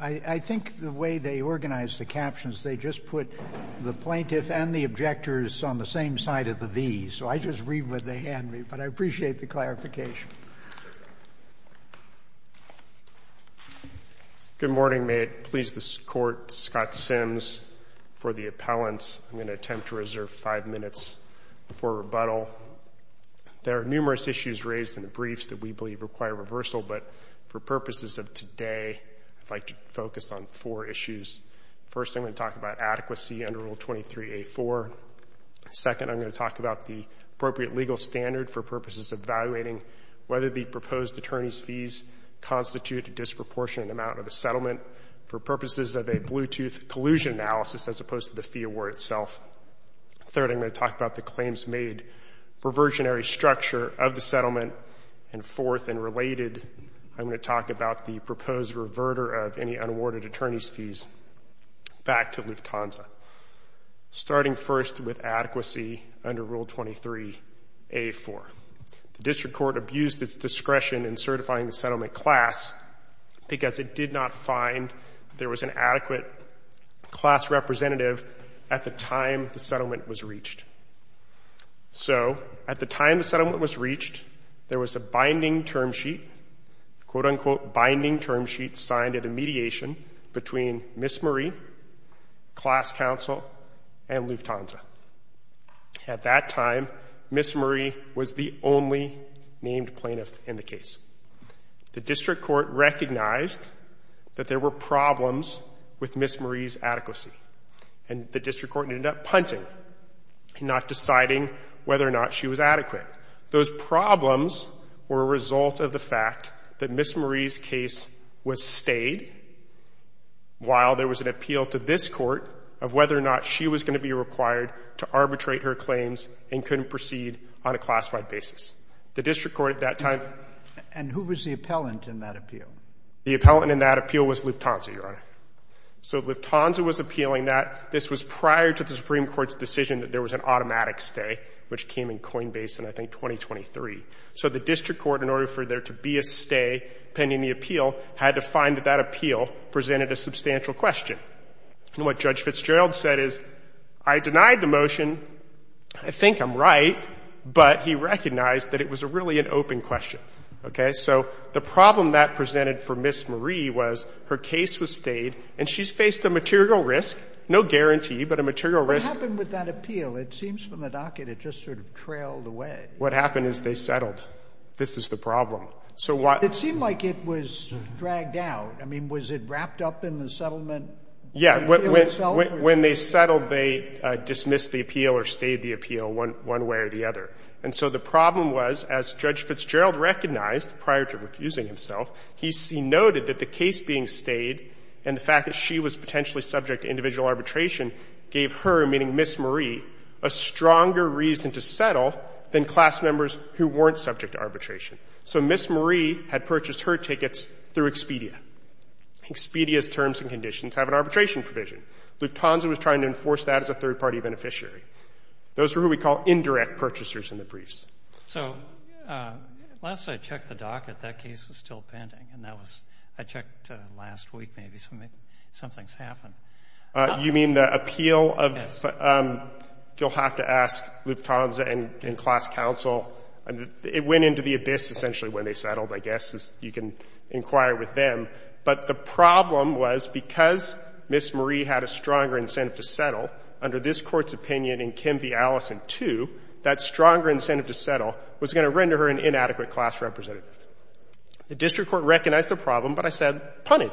I think the way they organized the captions, they just put the plaintiff and the objectors on the same side of the V. So I just read what they hand me. But I appreciate the clarification. Good morning. May it please this court, Scott Sims for the appellants. I'm going to attempt to reserve five minutes before rebuttal. There are numerous issues raised in the briefs that we believe require reversal. But for purposes of today, I'd like to focus on four issues. First, I'm going to talk about adequacy under Rule 23A4. Second, I'm going to talk about the appropriate legal standard for purposes of evaluating whether the proposed attorney's fees constitute a disproportionate amount of the settlement for purposes of a Bluetooth collusion analysis, as opposed to the fee award itself. Third, I'm going to talk about the claims made for versionary structure of the settlement. And fourth and related, I'm going to talk about the proposed reverter of any unawarded attorney's fees back to Lufthansa, starting first with adequacy under Rule 23A4. The district court abused its discretion in certifying the settlement class because it did not find there was an adequate class representative at the time the settlement was reached. So at the time the settlement was reached, there was a binding term sheet, quote, unquote, binding term sheet signed at a mediation between Ms. Marie, class counsel, and Lufthansa. At that time, Ms. Marie was the only named plaintiff in the case. The district court recognized that there were problems with Ms. Marie's adequacy. And the district court ended up punting, not deciding whether or not she was adequate. Those problems were a result of the fact that Ms. Marie's case was stayed while there was an appeal to this court of whether or not she was going to be required to arbitrate her claims and couldn't proceed on a classified basis. The district court at that time. And who was the appellant in that appeal? The appellant in that appeal was Lufthansa, Your Honor. So Lufthansa was appealing that. This was prior to the Supreme Court's decision that there was an automatic stay, which came in Coinbase in, I think, 2023. So the district court, in order for there to be a stay pending the appeal, had to find that that appeal presented a substantial question. And what Judge Fitzgerald said is, I denied the motion. I think I'm right. But he recognized that it was really an open question. So the problem that presented for Ms. Marie was her case was stayed. And she's faced a material risk. No guarantee, but a material risk. What happened with that appeal? It seems from the docket it just sort of trailed away. What happened is they settled. This is the problem. So what? It seemed like it was dragged out. I mean, was it wrapped up in the settlement? Yeah. When they settled, they dismissed the appeal or stayed the appeal one way or the other. And so the problem was, as Judge Fitzgerald recognized prior to recusing himself, he noted that the case being stayed and the fact that she was potentially subject to individual arbitration gave her, meaning Ms. Marie, a stronger reason to settle than class members who weren't subject to arbitration. So Ms. Marie had purchased her tickets through Expedia. Expedia's terms and conditions have an arbitration provision. Lufthansa was trying to enforce that as a third party beneficiary. Those are who we call indirect purchasers in the briefs. So last I checked the docket, that case was still pending. And that was, I checked last week maybe. Something's happened. You mean the appeal of, you'll have to ask Lufthansa and class counsel. It went into the abyss essentially when they settled, I guess, as you can inquire with them. But the problem was because Ms. Marie had a stronger incentive to settle, under this court's opinion in Kim v. Allison 2, that stronger incentive to settle was going to render her an inadequate class representative. The district court recognized the problem, but I said, punted.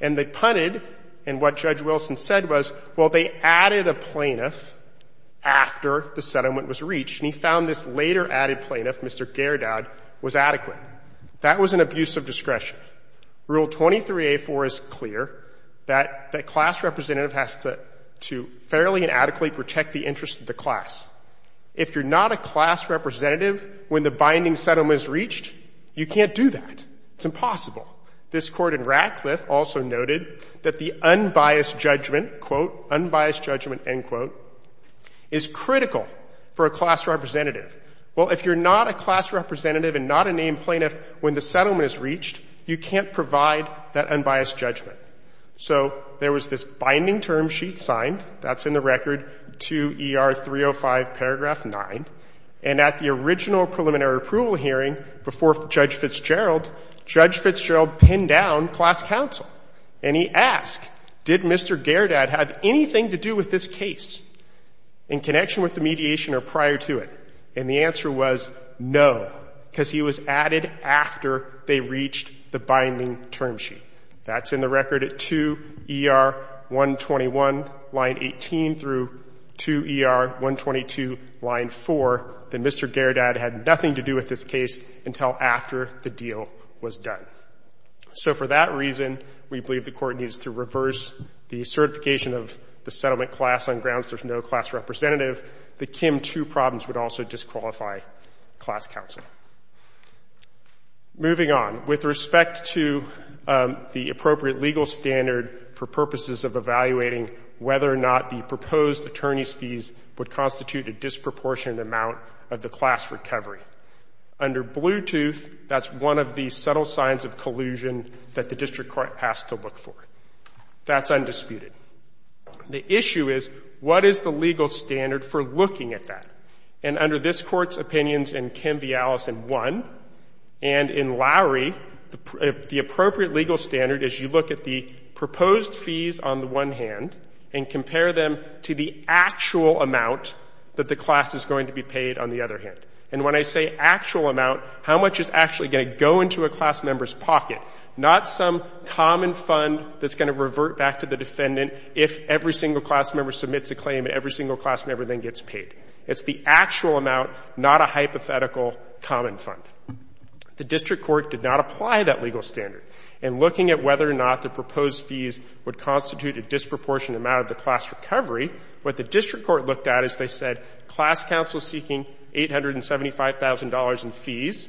And they punted, and what Judge Wilson said was, well, they added a plaintiff after the settlement was reached. And he found this later added plaintiff, Mr. Gerdaud, was adequate. That was an abuse of discretion. Rule 23A4 is clear, that the class representative has to fairly and adequately protect the interests of the class. If you're not a class representative when the binding settlement is reached, you can't do that. It's impossible. This court in Radcliffe also noted that the unbiased judgment, quote, unbiased judgment, end quote, is critical for a class representative. Well, if you're not a class representative and not a named plaintiff when the settlement is reached, you can't provide that unbiased judgment. So there was this binding term sheet signed. That's in the record, 2 ER 305, paragraph 9. And at the original preliminary approval hearing before Judge Fitzgerald, Judge Fitzgerald pinned down class counsel. And he asked, did Mr. Gerdaud have anything to do with this case in connection with the mediation or prior to it? And the answer was no, because he was added after they reached the binding term sheet. That's in the record at 2 ER 121, line 18, through 2 ER 122, line 4. Then Mr. Gerdaud had nothing to do with this case until after the deal was done. So for that reason, we believe the court needs to reverse the certification of the settlement class on grounds there's no class representative. The Kim 2 problems would also disqualify class counsel. Moving on. With respect to the appropriate legal standard for purposes of evaluating whether or not the proposed attorney's fees would constitute a disproportionate amount of the class recovery. Under Bluetooth, that's one of the subtle signs of collusion that the district court has to look for. That's undisputed. The issue is, what is the legal standard for looking at that? And under this court's opinions and Kim Viala's in one, and in Lowry, the appropriate legal standard is you look at the proposed fees on the one hand and compare them to the actual amount that the class is going to be paid on the other hand. And when I say actual amount, how much is actually going to go into a class member's pocket? Not some common fund that's going to revert back to the defendant if every single class member submits a claim and every single class member then gets paid. It's the actual amount, not a hypothetical common fund. The district court did not apply that legal standard. In looking at whether or not the proposed fees would constitute a disproportionate amount of the class recovery, what the district court looked at is they said class counsel seeking $875,000 in fees.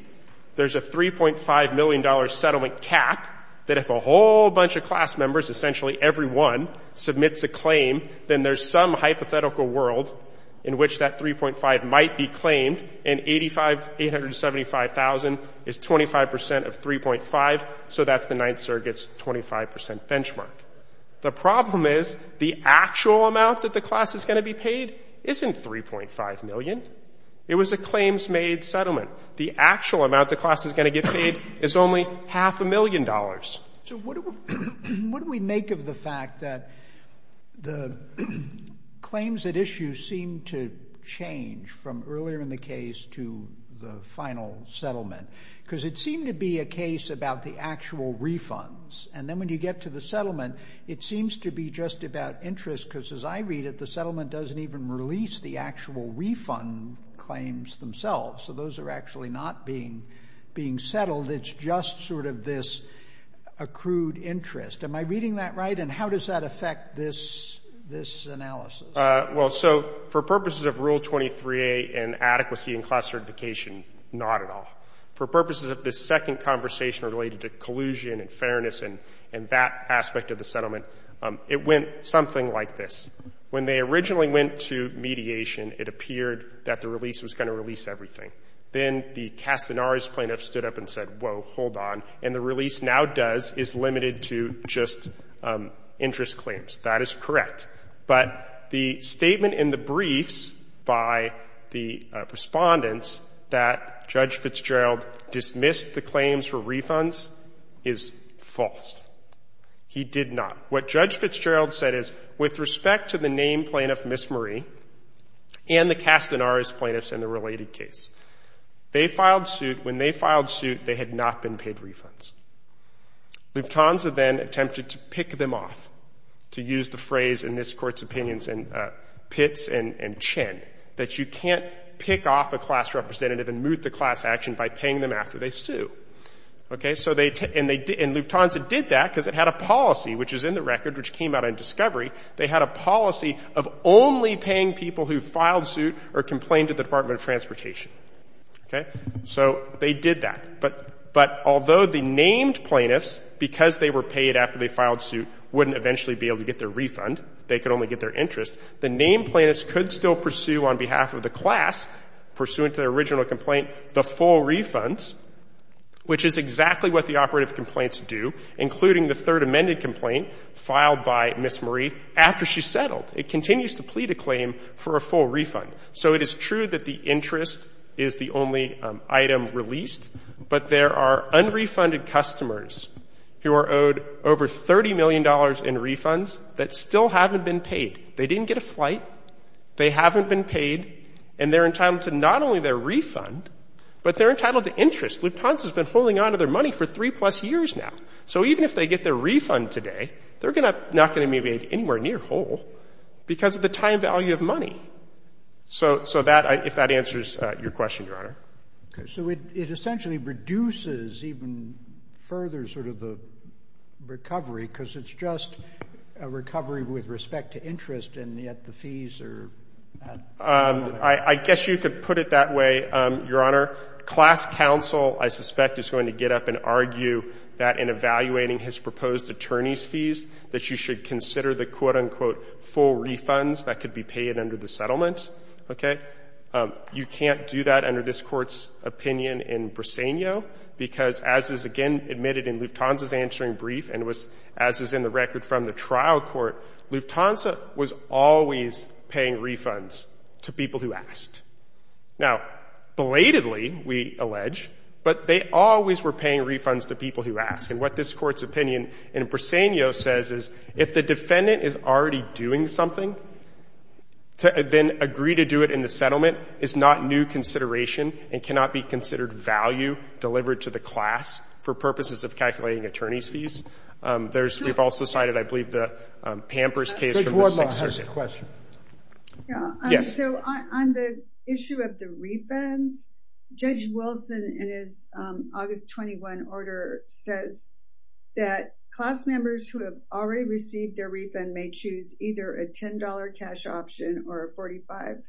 There's a $3.5 million settlement cap that if a whole bunch of class members, essentially everyone, submits a claim, then there's some hypothetical world in which that $3.5 might be claimed. And $875,000 is 25% of $3.5. So that's the Ninth Circuit's 25% benchmark. The problem is the actual amount that the class is going to be paid isn't $3.5 million. It was a claims made settlement. The actual amount the class is going to get paid is only half a million dollars. So what do we make of the fact that the claims at issue seem to change from earlier in the case to the final settlement? Because it seemed to be a case about the actual refunds. And then when you get to the settlement, it seems to be just about interest. Because as I read it, the settlement doesn't even release the actual refund claims themselves. So those are actually not being settled. It's just sort of this accrued interest. Am I reading that right? And how does that affect this analysis? Well, so for purposes of Rule 23A and adequacy in class certification, not at all. For purposes of this second conversation related to collusion and fairness and that aspect of the settlement, it went something like this. When they originally went to mediation, it appeared that the release was going to release everything. Then the Castanares plaintiff stood up and said, whoa, hold on. And the release now does is limited to just interest claims. That is correct. But the statement in the briefs by the respondents that Judge Fitzgerald dismissed the claims for refunds is false. He did not. What Judge Fitzgerald said is, with respect to the named plaintiff, Miss Marie, and the Castanares plaintiffs in the related case, they filed suit. When they filed suit, they had not been paid refunds. Lufthansa then attempted to pick them off, to use the phrase in this court's opinions in Pitts and Chen, that you can't pick off a class representative and moot the class action by paying them after they sue. And Lufthansa did that because it had a policy, which is in the record, which came out in discovery. They had a policy of only paying people who filed suit or complained to the Department of Transportation. So they did that. But although the named plaintiffs, because they were paid after they filed suit, wouldn't eventually be able to get their refund, they could only get their interest, the named plaintiffs could still pursue on behalf of the class, pursuant to their original complaint, the full refunds, which is exactly what the operative complaints do, including the third amended complaint filed by Miss Marie after she settled. It continues to plead a claim for a full refund. So it is true that the interest is the only item released. But there are unrefunded customers who are owed over $30 million in refunds that still haven't been paid. They didn't get a flight. They haven't been paid. And they're entitled to not only their refund, but they're entitled to interest. Lufthansa has been holding onto their money for three plus years now. So even if they get their refund today, they're not going to be made anywhere near whole because of the time value of money, if that answers your question, So it essentially reduces even further the recovery, because it's just a recovery with respect to interest, and yet the fees are at another level. I guess you could put it that way, Your Honor. Class counsel, I suspect, is going to get up and argue that in evaluating his proposed attorney's fees, that you should consider the quote, unquote, full refunds that could be paid under the settlement, OK? You can't do that under this court's opinion in Briseno, because as is again admitted in Lufthansa's answering brief and as is in the record from the trial court, Lufthansa was always paying refunds to people who asked. Now, belatedly, we allege, but they always were paying refunds to people who asked. And what this court's opinion in Briseno says is, if the defendant is already doing something, then agree to do it in the settlement is not new consideration and cannot be considered value delivered to the class for purposes of calculating attorney's fees. There's, we've also cited, I believe, the Pampers case from the Sixth Circuit. Judge Wardlaw has a question. Yes. So on the issue of the refunds, Judge Wilson in his August 21 order says that class members who have already received their refund may choose either a $10 cash option or a $45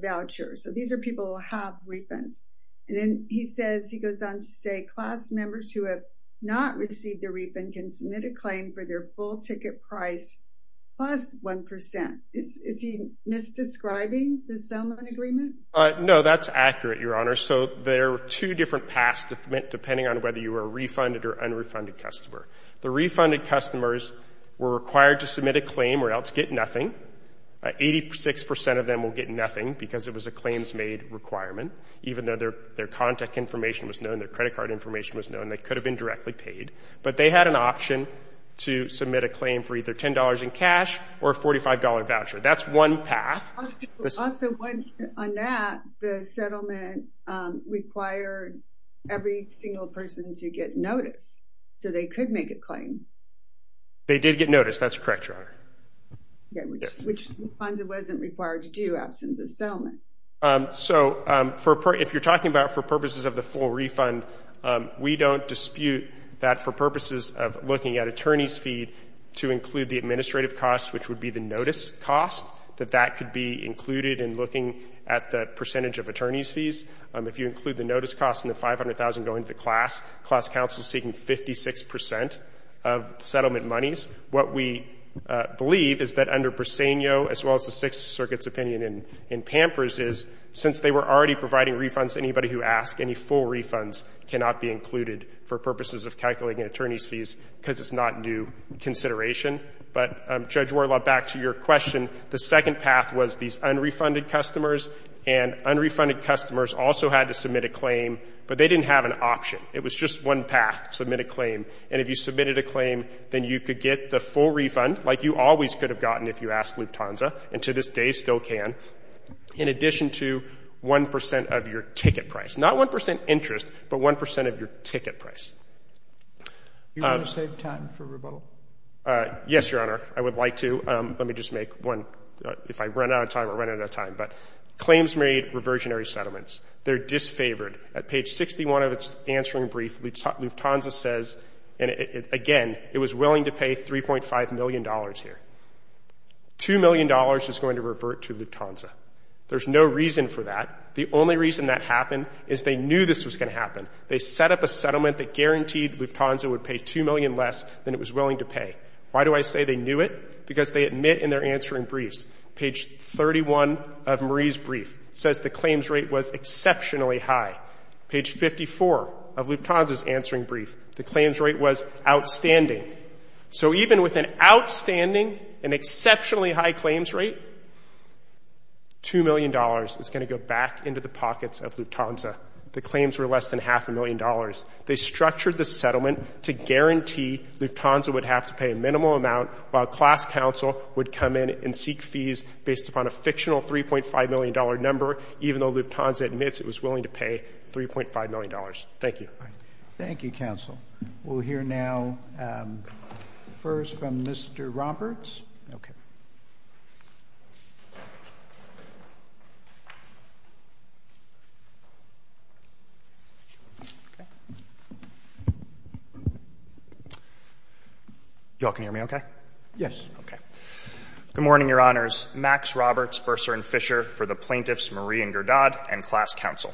voucher. So these are people who have refunds. And then he says, he goes on to say, class members who have not received their refund can submit a claim for their full ticket price plus 1%. Is he misdescribing the settlement agreement? No, that's accurate, Your Honor. So there were two different paths to submit depending on whether you were a refunded or unrefunded customer. The refunded customers were required to submit a claim or else get nothing. 86% of them will get nothing because it was a claims made requirement. Even though their contact information was known, their credit card information was known, they could have been directly paid. But they had an option to submit a claim for either $10 in cash or a $45 voucher. That's one path. Also, on that, the settlement required every single person to get notice so they could make a claim. They did get notice. That's correct, Your Honor. Which refunds it wasn't required to do absent the settlement. So if you're talking about for purposes of the full refund, we don't dispute that for purposes of looking at attorney's fee to include the administrative cost, which would be the notice cost, that that could be included in looking at the percentage of attorney's fees. If you include the notice cost and the $500,000 going to the class, class counsel is taking 56% of settlement monies. What we believe is that under Briseño, as well as the Sixth Circuit's opinion in Pampers, is since they were already providing refunds to anybody who asked, any full refunds cannot be included for purposes of calculating attorney's fees because it's not new consideration. But Judge Warlaw, back to your question, the second path was these unrefunded customers. And unrefunded customers also had to submit a claim, but they didn't have an option. It was just one path, submit a claim. And if you submitted a claim, then you could get the full refund, like you always could have gotten if you asked Lufthansa, and to this day still can, in addition to 1% of your ticket price. Not 1% interest, but 1% of your ticket price. Do you want to save time for rebuttal? Yes, Your Honor. I would like to. Let me just make one, if I run out of time, or run out of time. But claims made reversionary settlements, they're disfavored. At page 61 of its answering brief, Lufthansa says, again, it was willing to pay $3.5 million here. $2 million is going to revert to Lufthansa. There's no reason for that. The only reason that happened is they knew this was going to happen. They set up a settlement that guaranteed Lufthansa would pay $2 million less than it was willing to pay. Why do I say they knew it? Because they admit in their answering briefs. Page 31 of Marie's brief says the claims rate was exceptionally high. Page 54 of Lufthansa's answering brief, the claims rate was outstanding. So even with an outstanding and exceptionally high claims rate, $2 million is going to go back into the pockets of Lufthansa. The claims were less than half a million dollars. They structured the settlement to guarantee Lufthansa would have to pay a minimal amount, while class counsel would come in and seek fees based upon a fictional $3.5 million number, even though Lufthansa admits it was willing to pay $3.5 million. Thank you. Thank you, counsel. We'll hear now first from Mr. Roberts. OK. You all can hear me OK? Yes. OK. Good morning, Your Honors. Max Roberts, Bursar and Fisher for the plaintiffs Marie and Gerdaud and class counsel.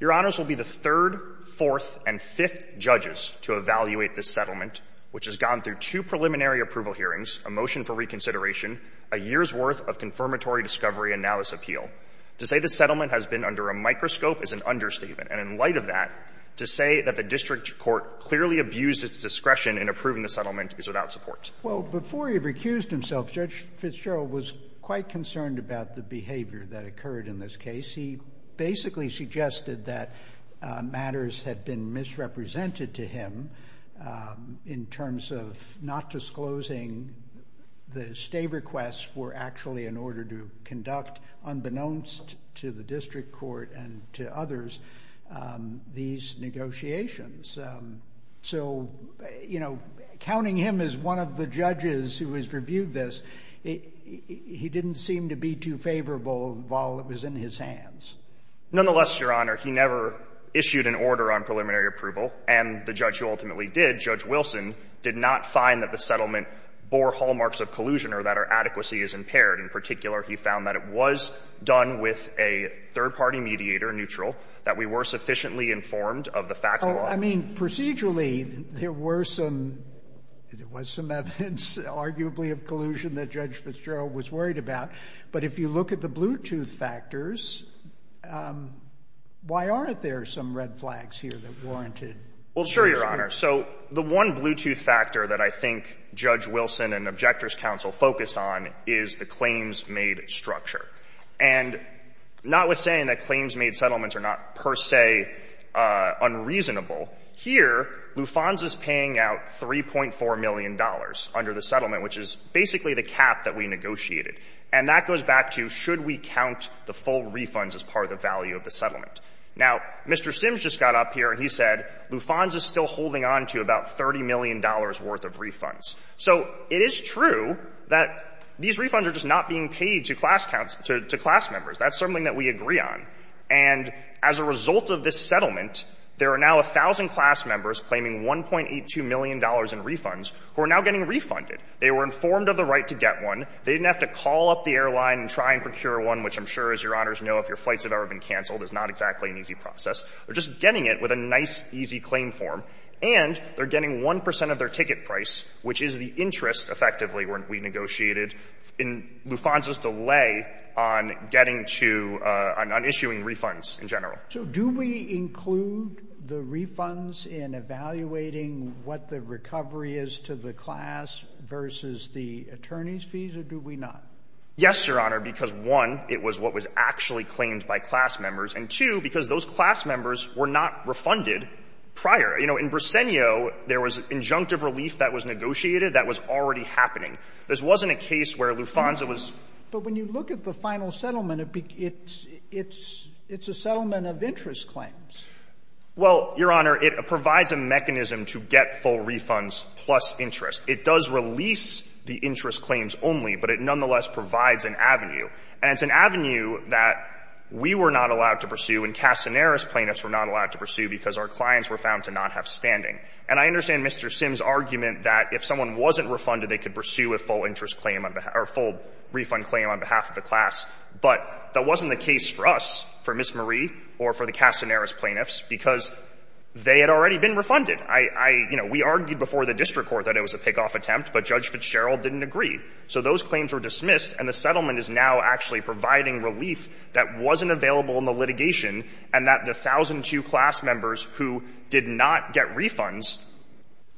Your Honors will be the third, fourth, and fifth judges to evaluate this settlement, which has gone through two preliminary approval hearings, a motion for reconsideration, a year's worth of confirmatory discovery, and now this appeal. To say the settlement has been under a microscope is an understatement. And in light of that, to say that the district court clearly abused its discretion in approving the settlement is without support. Well, before he recused himself, Judge Fitzgerald was quite concerned about the behavior that occurred in this case. He basically suggested that matters had been misrepresented to him in terms of not disclosing the stay requests were actually in order to conduct unbeknownst to the district court and to others these negotiations. So counting him as one of the judges who has reviewed this, he didn't seem to be too favorable while it was in his hands. Nonetheless, Your Honor, he never issued an order on preliminary approval. And the judge who ultimately did, Judge Wilson, did not find that the settlement bore hallmarks of collusion or that our adequacy is impaired. In particular, he found that it was done with a third-party mediator, neutral, that we were sufficiently informed of the facts. I mean, procedurally, there was some evidence, arguably, of collusion that Judge Fitzgerald was worried about. But if you look at the Bluetooth factors, why aren't there some red flags here that warranted? Well, sure, Your Honor. So the one Bluetooth factor that I think Judge Wilson and objectors counsel focus on is the claims-made structure. And notwithstanding that claims-made settlements are not per se unreasonable, here, Luffans is paying out $3.4 million under the settlement, which is basically the cap that we negotiated. And that goes back to, should we count the full refunds as part of the value of the settlement? Now, Mr. Sims just got up here, and he said Luffans is still holding on to about $30 million worth of refunds. So it is true that these refunds are just not being paid to class members. That's something that we agree on. And as a result of this settlement, there are now 1,000 class members claiming $1.82 million in refunds who are now getting refunded. They were informed of the right to get one. They didn't have to call up the airline and try and procure one, which I'm sure, as Your Honors know, if your flights have ever been canceled, it's not exactly an easy process. They're just getting it with a nice, easy claim form. And they're getting 1 percent of their ticket price, which is the interest, effectively, when we negotiated in Luffans' delay on getting to — on issuing refunds in general. So do we include the refunds in evaluating what the recovery is to the class versus the attorney's fees, or do we not? Yes, Your Honor, because, one, it was what was actually claimed by class members, and, two, because those class members were not refunded prior. You know, in Briseno, there was injunctive relief that was negotiated that was already happening. This wasn't a case where Luffans was — But when you look at the final settlement, it's a settlement of interest claims. Well, Your Honor, it provides a mechanism to get full refunds plus interest. It does release the interest claims only, but it nonetheless provides an avenue. And it's an avenue that we were not allowed to pursue and Castaner's plaintiffs were not allowed to pursue because our clients were found to not have standing. And I understand Mr. Sims' argument that if someone wasn't refunded, they could pursue a full interest claim or a full refund claim on behalf of the class. But that wasn't the case for us, for Ms. Marie or for the Castaner's plaintiffs, because they had already been refunded. I — you know, we argued before the district court that it was a pickoff attempt, but Judge Fitzgerald didn't agree. So those claims were dismissed, and the settlement is now actually providing relief that wasn't available in the litigation and that the 1,002 class members who did not get refunds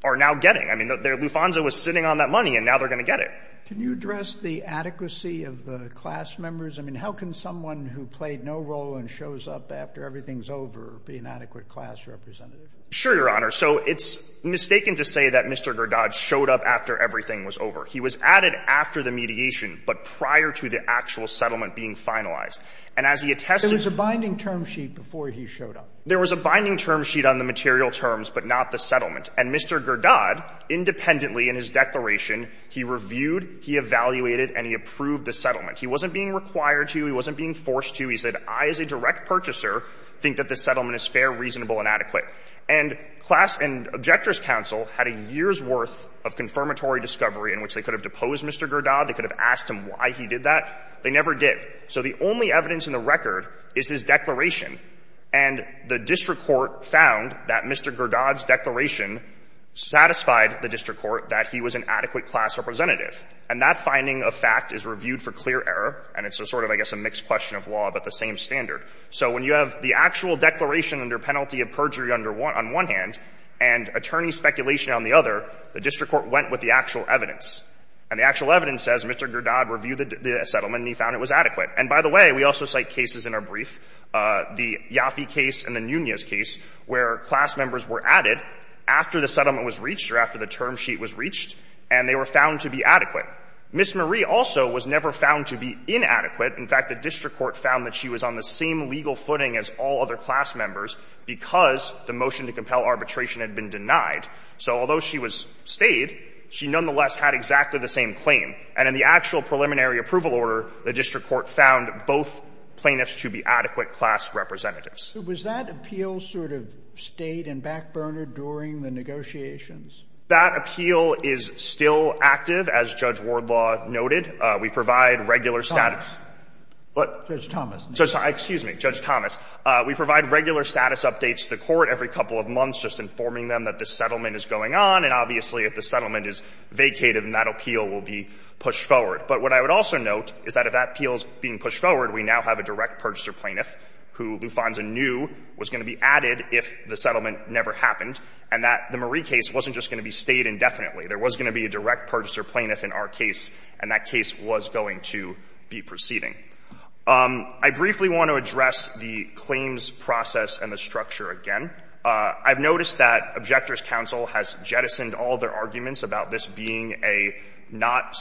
are now getting. I mean, their Lufanzo was sitting on that money, and now they're going to get it. Can you address the adequacy of the class members? I mean, how can someone who played no role and shows up after everything's over be an adequate class representative? Sure, Your Honor. So it's mistaken to say that Mr. Gurdage showed up after everything was over. He was added after the mediation, but prior to the actual settlement being finalized. And as he attested — There was a binding term sheet before he showed up. There was a binding term sheet on the material terms, but not the settlement. And Mr. Gurdage, independently in his declaration, he reviewed, he evaluated, and he approved the settlement. He wasn't being required to. He wasn't being forced to. He said, I, as a direct purchaser, think that the settlement is fair, reasonable, and adequate. And class and objector's counsel had a year's worth of confirmatory discovery in which they could have deposed Mr. Gurdage. They could have asked him why he did that. They never did. So the only evidence in the record is his declaration. And the district court found that Mr. Gurdage's declaration satisfied the district court that he was an adequate class representative. And that finding of fact is reviewed for clear error. And it's a sort of, I guess, a mixed question of law, but the same standard. So when you have the actual declaration under penalty of perjury on one hand, and attorney speculation on the other, the district court went with the actual evidence. And the actual evidence says Mr. Gurdage reviewed the settlement, and he found it was adequate. And by the way, we also cite cases in our brief. The Yaffe case and the Nunez case where class members were added after the settlement was reached or after the term sheet was reached, and they were found to be adequate. Ms. Marie also was never found to be inadequate. In fact, the district court found that she was on the same legal footing as all other class members because the motion to compel arbitration had been denied. So although she was stayed, she nonetheless had exactly the same claim. And in the actual preliminary approval order, the district court found both plaintiffs to be adequate class representatives. Was that appeal sort of stayed and back-burned during the negotiations? That appeal is still active, as Judge Wardlaw noted. We provide regular status. Thomas. What? Judge Thomas. Excuse me, Judge Thomas. We provide regular status updates to the court every couple of months just informing them that the settlement is going on. And obviously, if the settlement is vacated, then that appeal will be pushed forward. But what I would also note is that if that appeal is being pushed forward, we now have a direct purchaser plaintiff who Lufanza knew was going to be added if the settlement never happened, and that the Marie case wasn't just going to be stayed indefinitely. There was going to be a direct purchaser plaintiff in our case, and that case was going to be proceeding. I briefly want to address the claims process and the structure again. I've noticed that Objectors' Counsel has jettisoned all their arguments about this being a not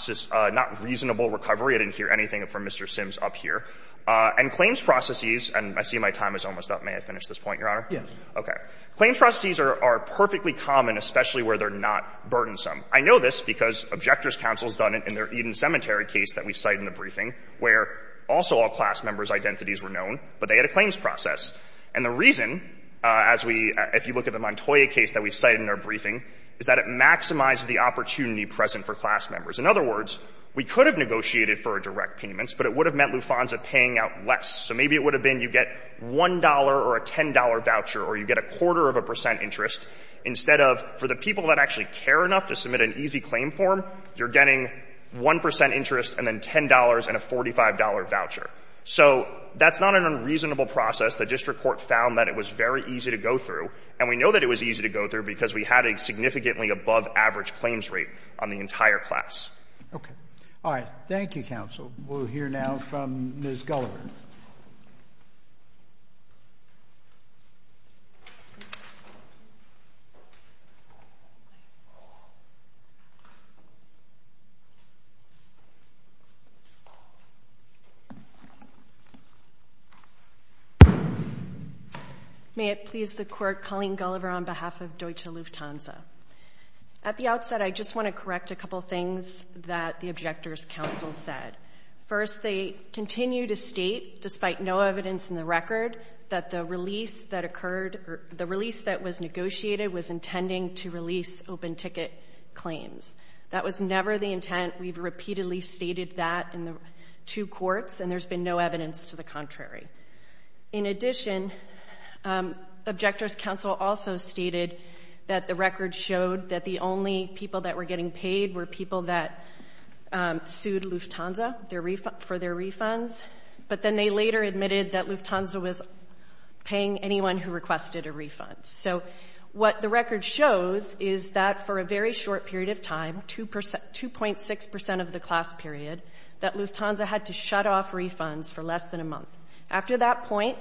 reasonable recovery. I didn't hear anything from Mr. Sims up here. And claims processes, and I see my time is almost up. May I finish this point, Your Honor? Yes. OK. Claims processes are perfectly common, especially where they're not burdensome. I know this because Objectors' Counsel has done it in their Eden Cemetery case that we cite in the briefing, where also all class members' identities were known, but they had a claims process. And the reason, as we, if you look at the Montoya case that we cite in our briefing, is that it maximizes the opportunity present for class members. In other words, we could have negotiated for a direct payment, but it would have meant Lufonza paying out less. So maybe it would have been you get $1 or a $10 voucher, or you get a quarter of a percent interest. Instead of, for the people that actually care enough to submit an easy claim form, you're getting 1% interest and then $10 and a $45 voucher. So that's not an unreasonable process. The district court found that it was very easy to go through, and we know that it was easy to go through because we had a significantly above-average claims rate on the entire class. OK. All right. Thank you, counsel. We'll hear now from Ms. Gulliver. Ms. Gulliver. May it please the court, Colleen Gulliver on behalf of Deutsche Lufthansa. At the outset, I just want to correct a couple of things that the objector's counsel said. First, they continue to state, despite no evidence in the record, that the release that was negotiated was intending to release open ticket claims. That was never the intent. We've repeatedly stated that in the two courts, and there's been no evidence to the contrary. In addition, objector's counsel also stated that the record showed that the only people that were getting paid were people that sued Lufthansa for their refunds. But then they later admitted that Lufthansa was paying anyone who requested a refund. So what the record shows is that for a very short period of time, 2.6% of the class period, that Lufthansa had to shut off refunds for less than a month. After that point,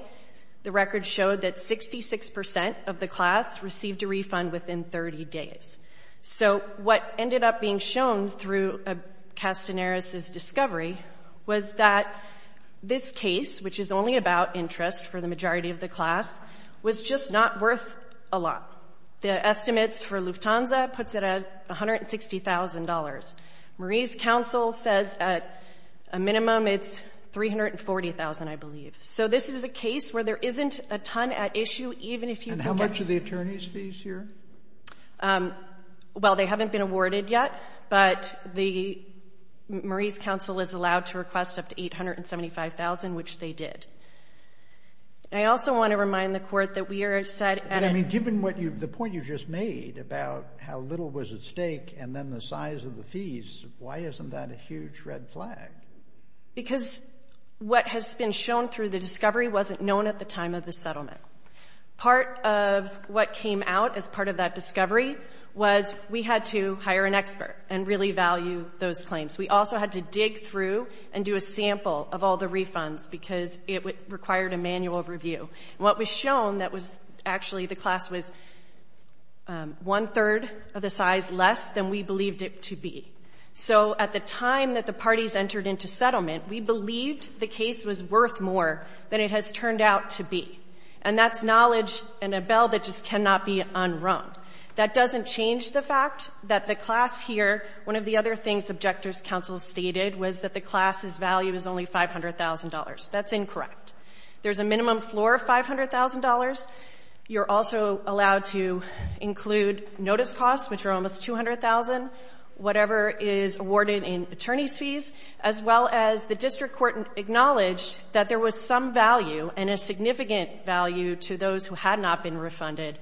the record showed that 66% of the class received a refund within 30 days. So what ended up being shown through Castaneris' discovery was that this case, which is only about interest for the majority of the class, was just not worth a lot. The estimates for Lufthansa puts it at $160,000. Marie's counsel says at a minimum it's $340,000, I believe. So this is a case where there isn't a ton at issue, even if you get it. Are there any savings fees here? Well, they haven't been awarded yet. But Marie's counsel is allowed to request up to $875,000, which they did. I also want to remind the court that we are set at a- I mean, given the point you just made about how little was at stake and then the size of the fees, why isn't that a huge red flag? Because what has been shown through the discovery wasn't known at the time of the settlement. Part of what came out as part of that discovery was we had to hire an expert and really value those claims. We also had to dig through and do a sample of all the refunds because it required a manual review. What was shown, that was actually the class was one third of the size less than we believed it to be. So at the time that the parties entered into settlement, we believed the case was worth more than it has turned out to be. And that's knowledge and a bell that just cannot be unrung. That doesn't change the fact that the class here, one of the other things objector's counsel stated was that the class's value is only $500,000. That's incorrect. There's a minimum floor of $500,000. You're also allowed to include notice costs, which are almost $200,000, whatever is awarded in attorney's fees, as well as the district court acknowledged that there was some value and a significant value to those who had not been refunded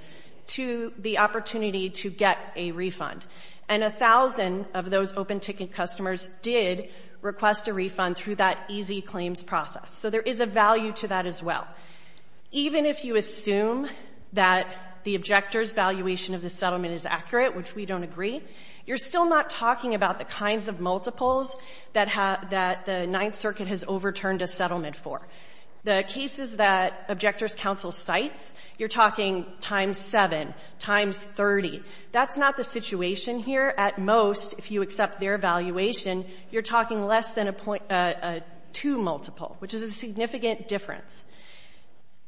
to the opportunity to get a refund. And 1,000 of those open ticket customers did request a refund through that easy claims process. So there is a value to that as well. Even if you assume that the objector's valuation of the settlement is accurate, which we don't agree, you're still not talking about the kinds of multiples that the Ninth Circuit has overturned a settlement for. The cases that objector's counsel cites, you're talking times seven, times 30. That's not the situation here. At most, if you accept their valuation, you're talking less than a two multiple, which is a significant difference.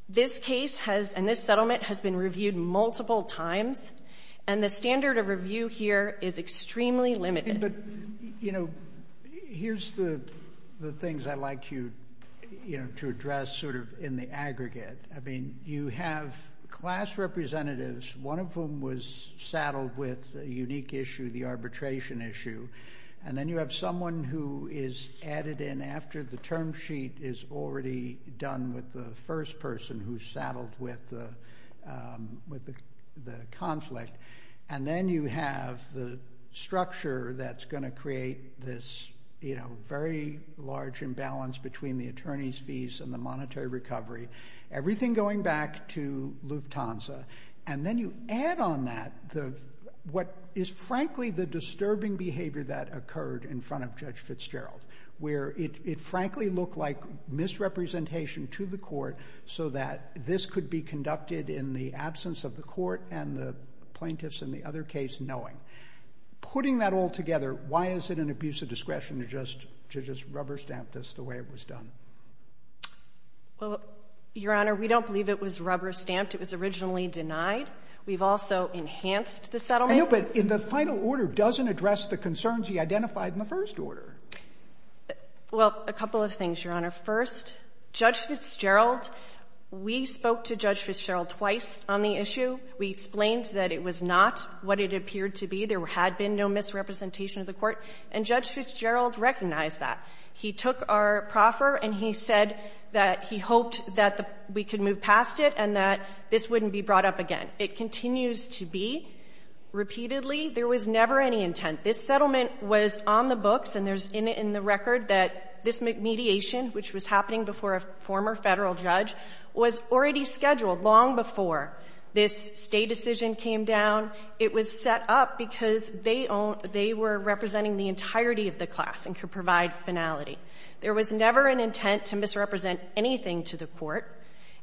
This case and this settlement has been reviewed multiple times. And the standard of review here is extremely limited. But, you know, here's the things I'd like you, you know, to address sort of in the aggregate. I mean, you have class representatives, one of whom was saddled with a unique issue, the arbitration issue. And then you have someone who is added in after the term sheet is already done with the first person who's saddled with the conflict. And then you have the structure that's gonna create this, you know, very large imbalance between the attorney's fees and the monetary recovery, everything going back to Lufthansa. And then you add on that, what is frankly the disturbing behavior that occurred in front of Judge Fitzgerald, where it frankly looked like misrepresentation to the court so that this could be conducted in the absence of the court and the plaintiffs in the other case knowing. Putting that all together, why is it an abuse of discretion to just rubber stamp this the way it was done? Well, Your Honor, we don't believe it was rubber stamped. It was originally denied. We've also enhanced the settlement. I know, but in the final order, doesn't address the concerns he identified in the first order. Well, a couple of things, Your Honor. First, Judge Fitzgerald, we spoke to Judge Fitzgerald twice on the issue. We explained that it was not what it appeared to be. There had been no misrepresentation of the court, and Judge Fitzgerald recognized that. He took our proffer and he said that he hoped that we could move past it and that this wouldn't be brought up again. It continues to be. Repeatedly, there was never any intent. This settlement was on the books and there's in the record that this mediation, which was happening before a former federal judge, was already scheduled long before this state decision came down. It was set up because they were representing the entirety of the class and could provide finality. There was never an intent to misrepresent anything to the court,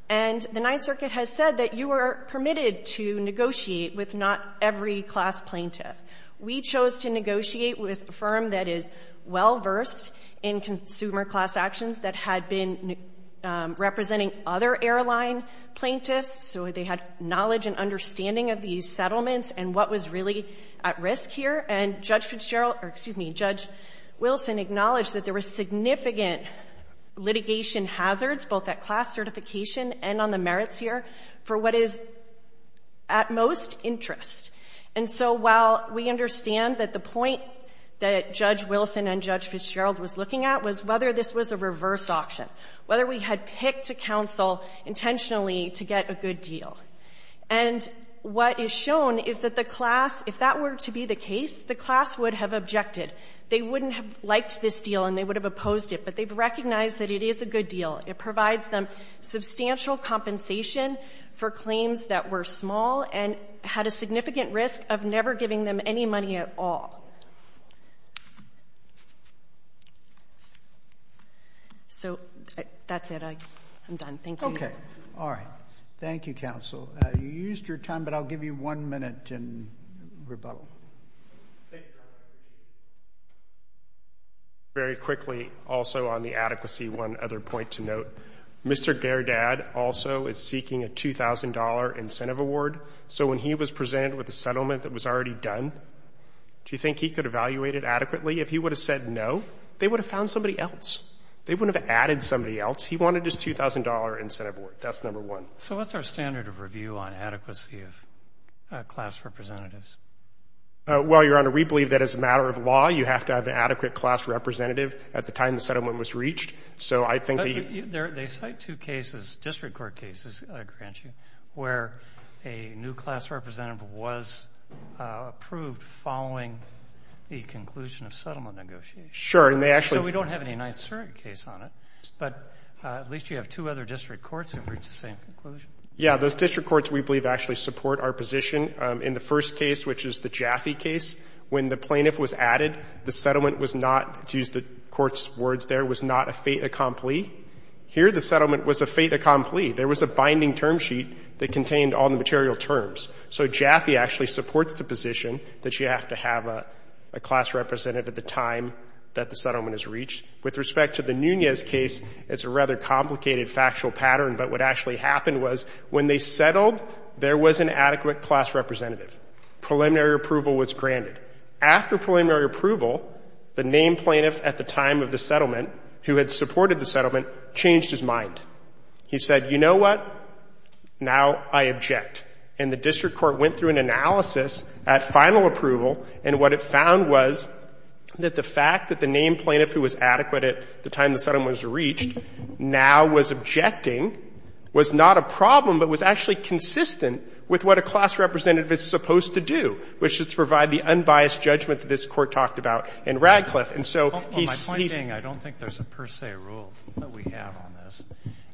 and the Ninth Circuit has said that you are permitted to negotiate with not every class plaintiff. We chose to negotiate with a firm that is well-versed in consumer class actions that had been representing other airline plaintiffs, so they had knowledge and understanding of these settlements and what was really at risk here. And Judge Fitzgerald, or excuse me, Judge Wilson acknowledged that there were significant litigation hazards, both at class certification and on the merits here, for what is at most interest. And so while we understand that the point that Judge Wilson and Judge Fitzgerald was looking at was whether this was a reverse auction, whether we had picked a counsel intentionally to get a good deal. And what is shown is that the class, if that were to be the case, the class would have objected. They wouldn't have liked this deal and they would have opposed it, but they've recognized that it is a good deal. It provides them substantial compensation for claims that were small and had a significant risk of never giving them any money at all. So that's it. I'm done. Thank you. Okay. All right. Thank you, counsel. You used your time, but I'll give you one minute in rebuttal. Thank you, Judge. Very quickly, also on the adequacy, one other point to note. Mr. Gerdad also is seeking a $2,000 incentive award. So when he was presented with a settlement that was already done, do you think he could evaluate it adequately? If he would have said no, they would have found somebody else. They wouldn't have added somebody else. He wanted his $2,000 incentive award. That's number one. So what's our standard of review on adequacy of class representatives? Well, Your Honor, we believe that as a matter of law, you have to have an adequate class representative at the time the settlement was reached. So I think that you... They cite two cases, district court cases, I grant you, where a new class representative was approved following the conclusion of settlement negotiations. Sure, and they actually... So we don't have any Nysert case on it, but at least you have two other district courts who reached the same conclusion. Yeah, those district courts, we believe, actually support our position. In the first case, which is the Jaffe case, when the plaintiff was added, the settlement was not, to use the court's words there, was not a fait accompli. Here, the settlement was a fait accompli. There was a binding term sheet that contained all the material terms. So Jaffe actually supports the position that you have to have a class representative at the time that the settlement is reached. With respect to the Nunez case, it's a rather complicated factual pattern, but what actually happened was, when they settled, there was an adequate class representative. Preliminary approval was granted. After preliminary approval, the named plaintiff at the time of the settlement, who had supported the settlement, changed his mind. He said, you know what, now I object. And the district court went through an analysis at final approval, and what it found was that the fact that the named plaintiff who was adequate at the time the settlement was reached now was objecting, was not a problem, but was actually consistent with what a class representative is supposed to do, which is to provide the unbiased judgment that this court talked about in Radcliffe. And so he's, he's. Well, my point being, I don't think there's a per se rule that we have on this.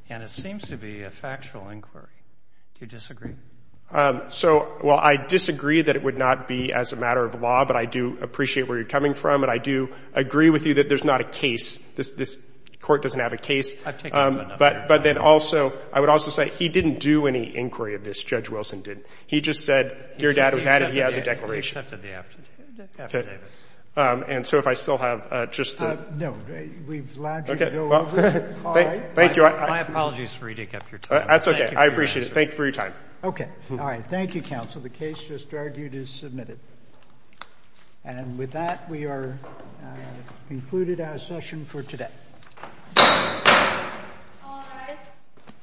And it seems to be a factual inquiry. Do you disagree? So, well, I disagree that it would not be as a matter of law, but I do appreciate where you're coming from. And I do agree with you that there's not a case. This, this court doesn't have a case, but, but then also, I would also say he didn't do any inquiry of this. Judge Wilson didn't. He just said, dear dad, it was added. He has a declaration. He accepted the affidavit. And so if I still have just the. No, we've allowed you to go over. Thank you. My apologies for eating up your time. That's okay. I appreciate it. Okay. All right. Thank you. Counsel. The case just argued is submitted. And with that, we are concluded our session for today.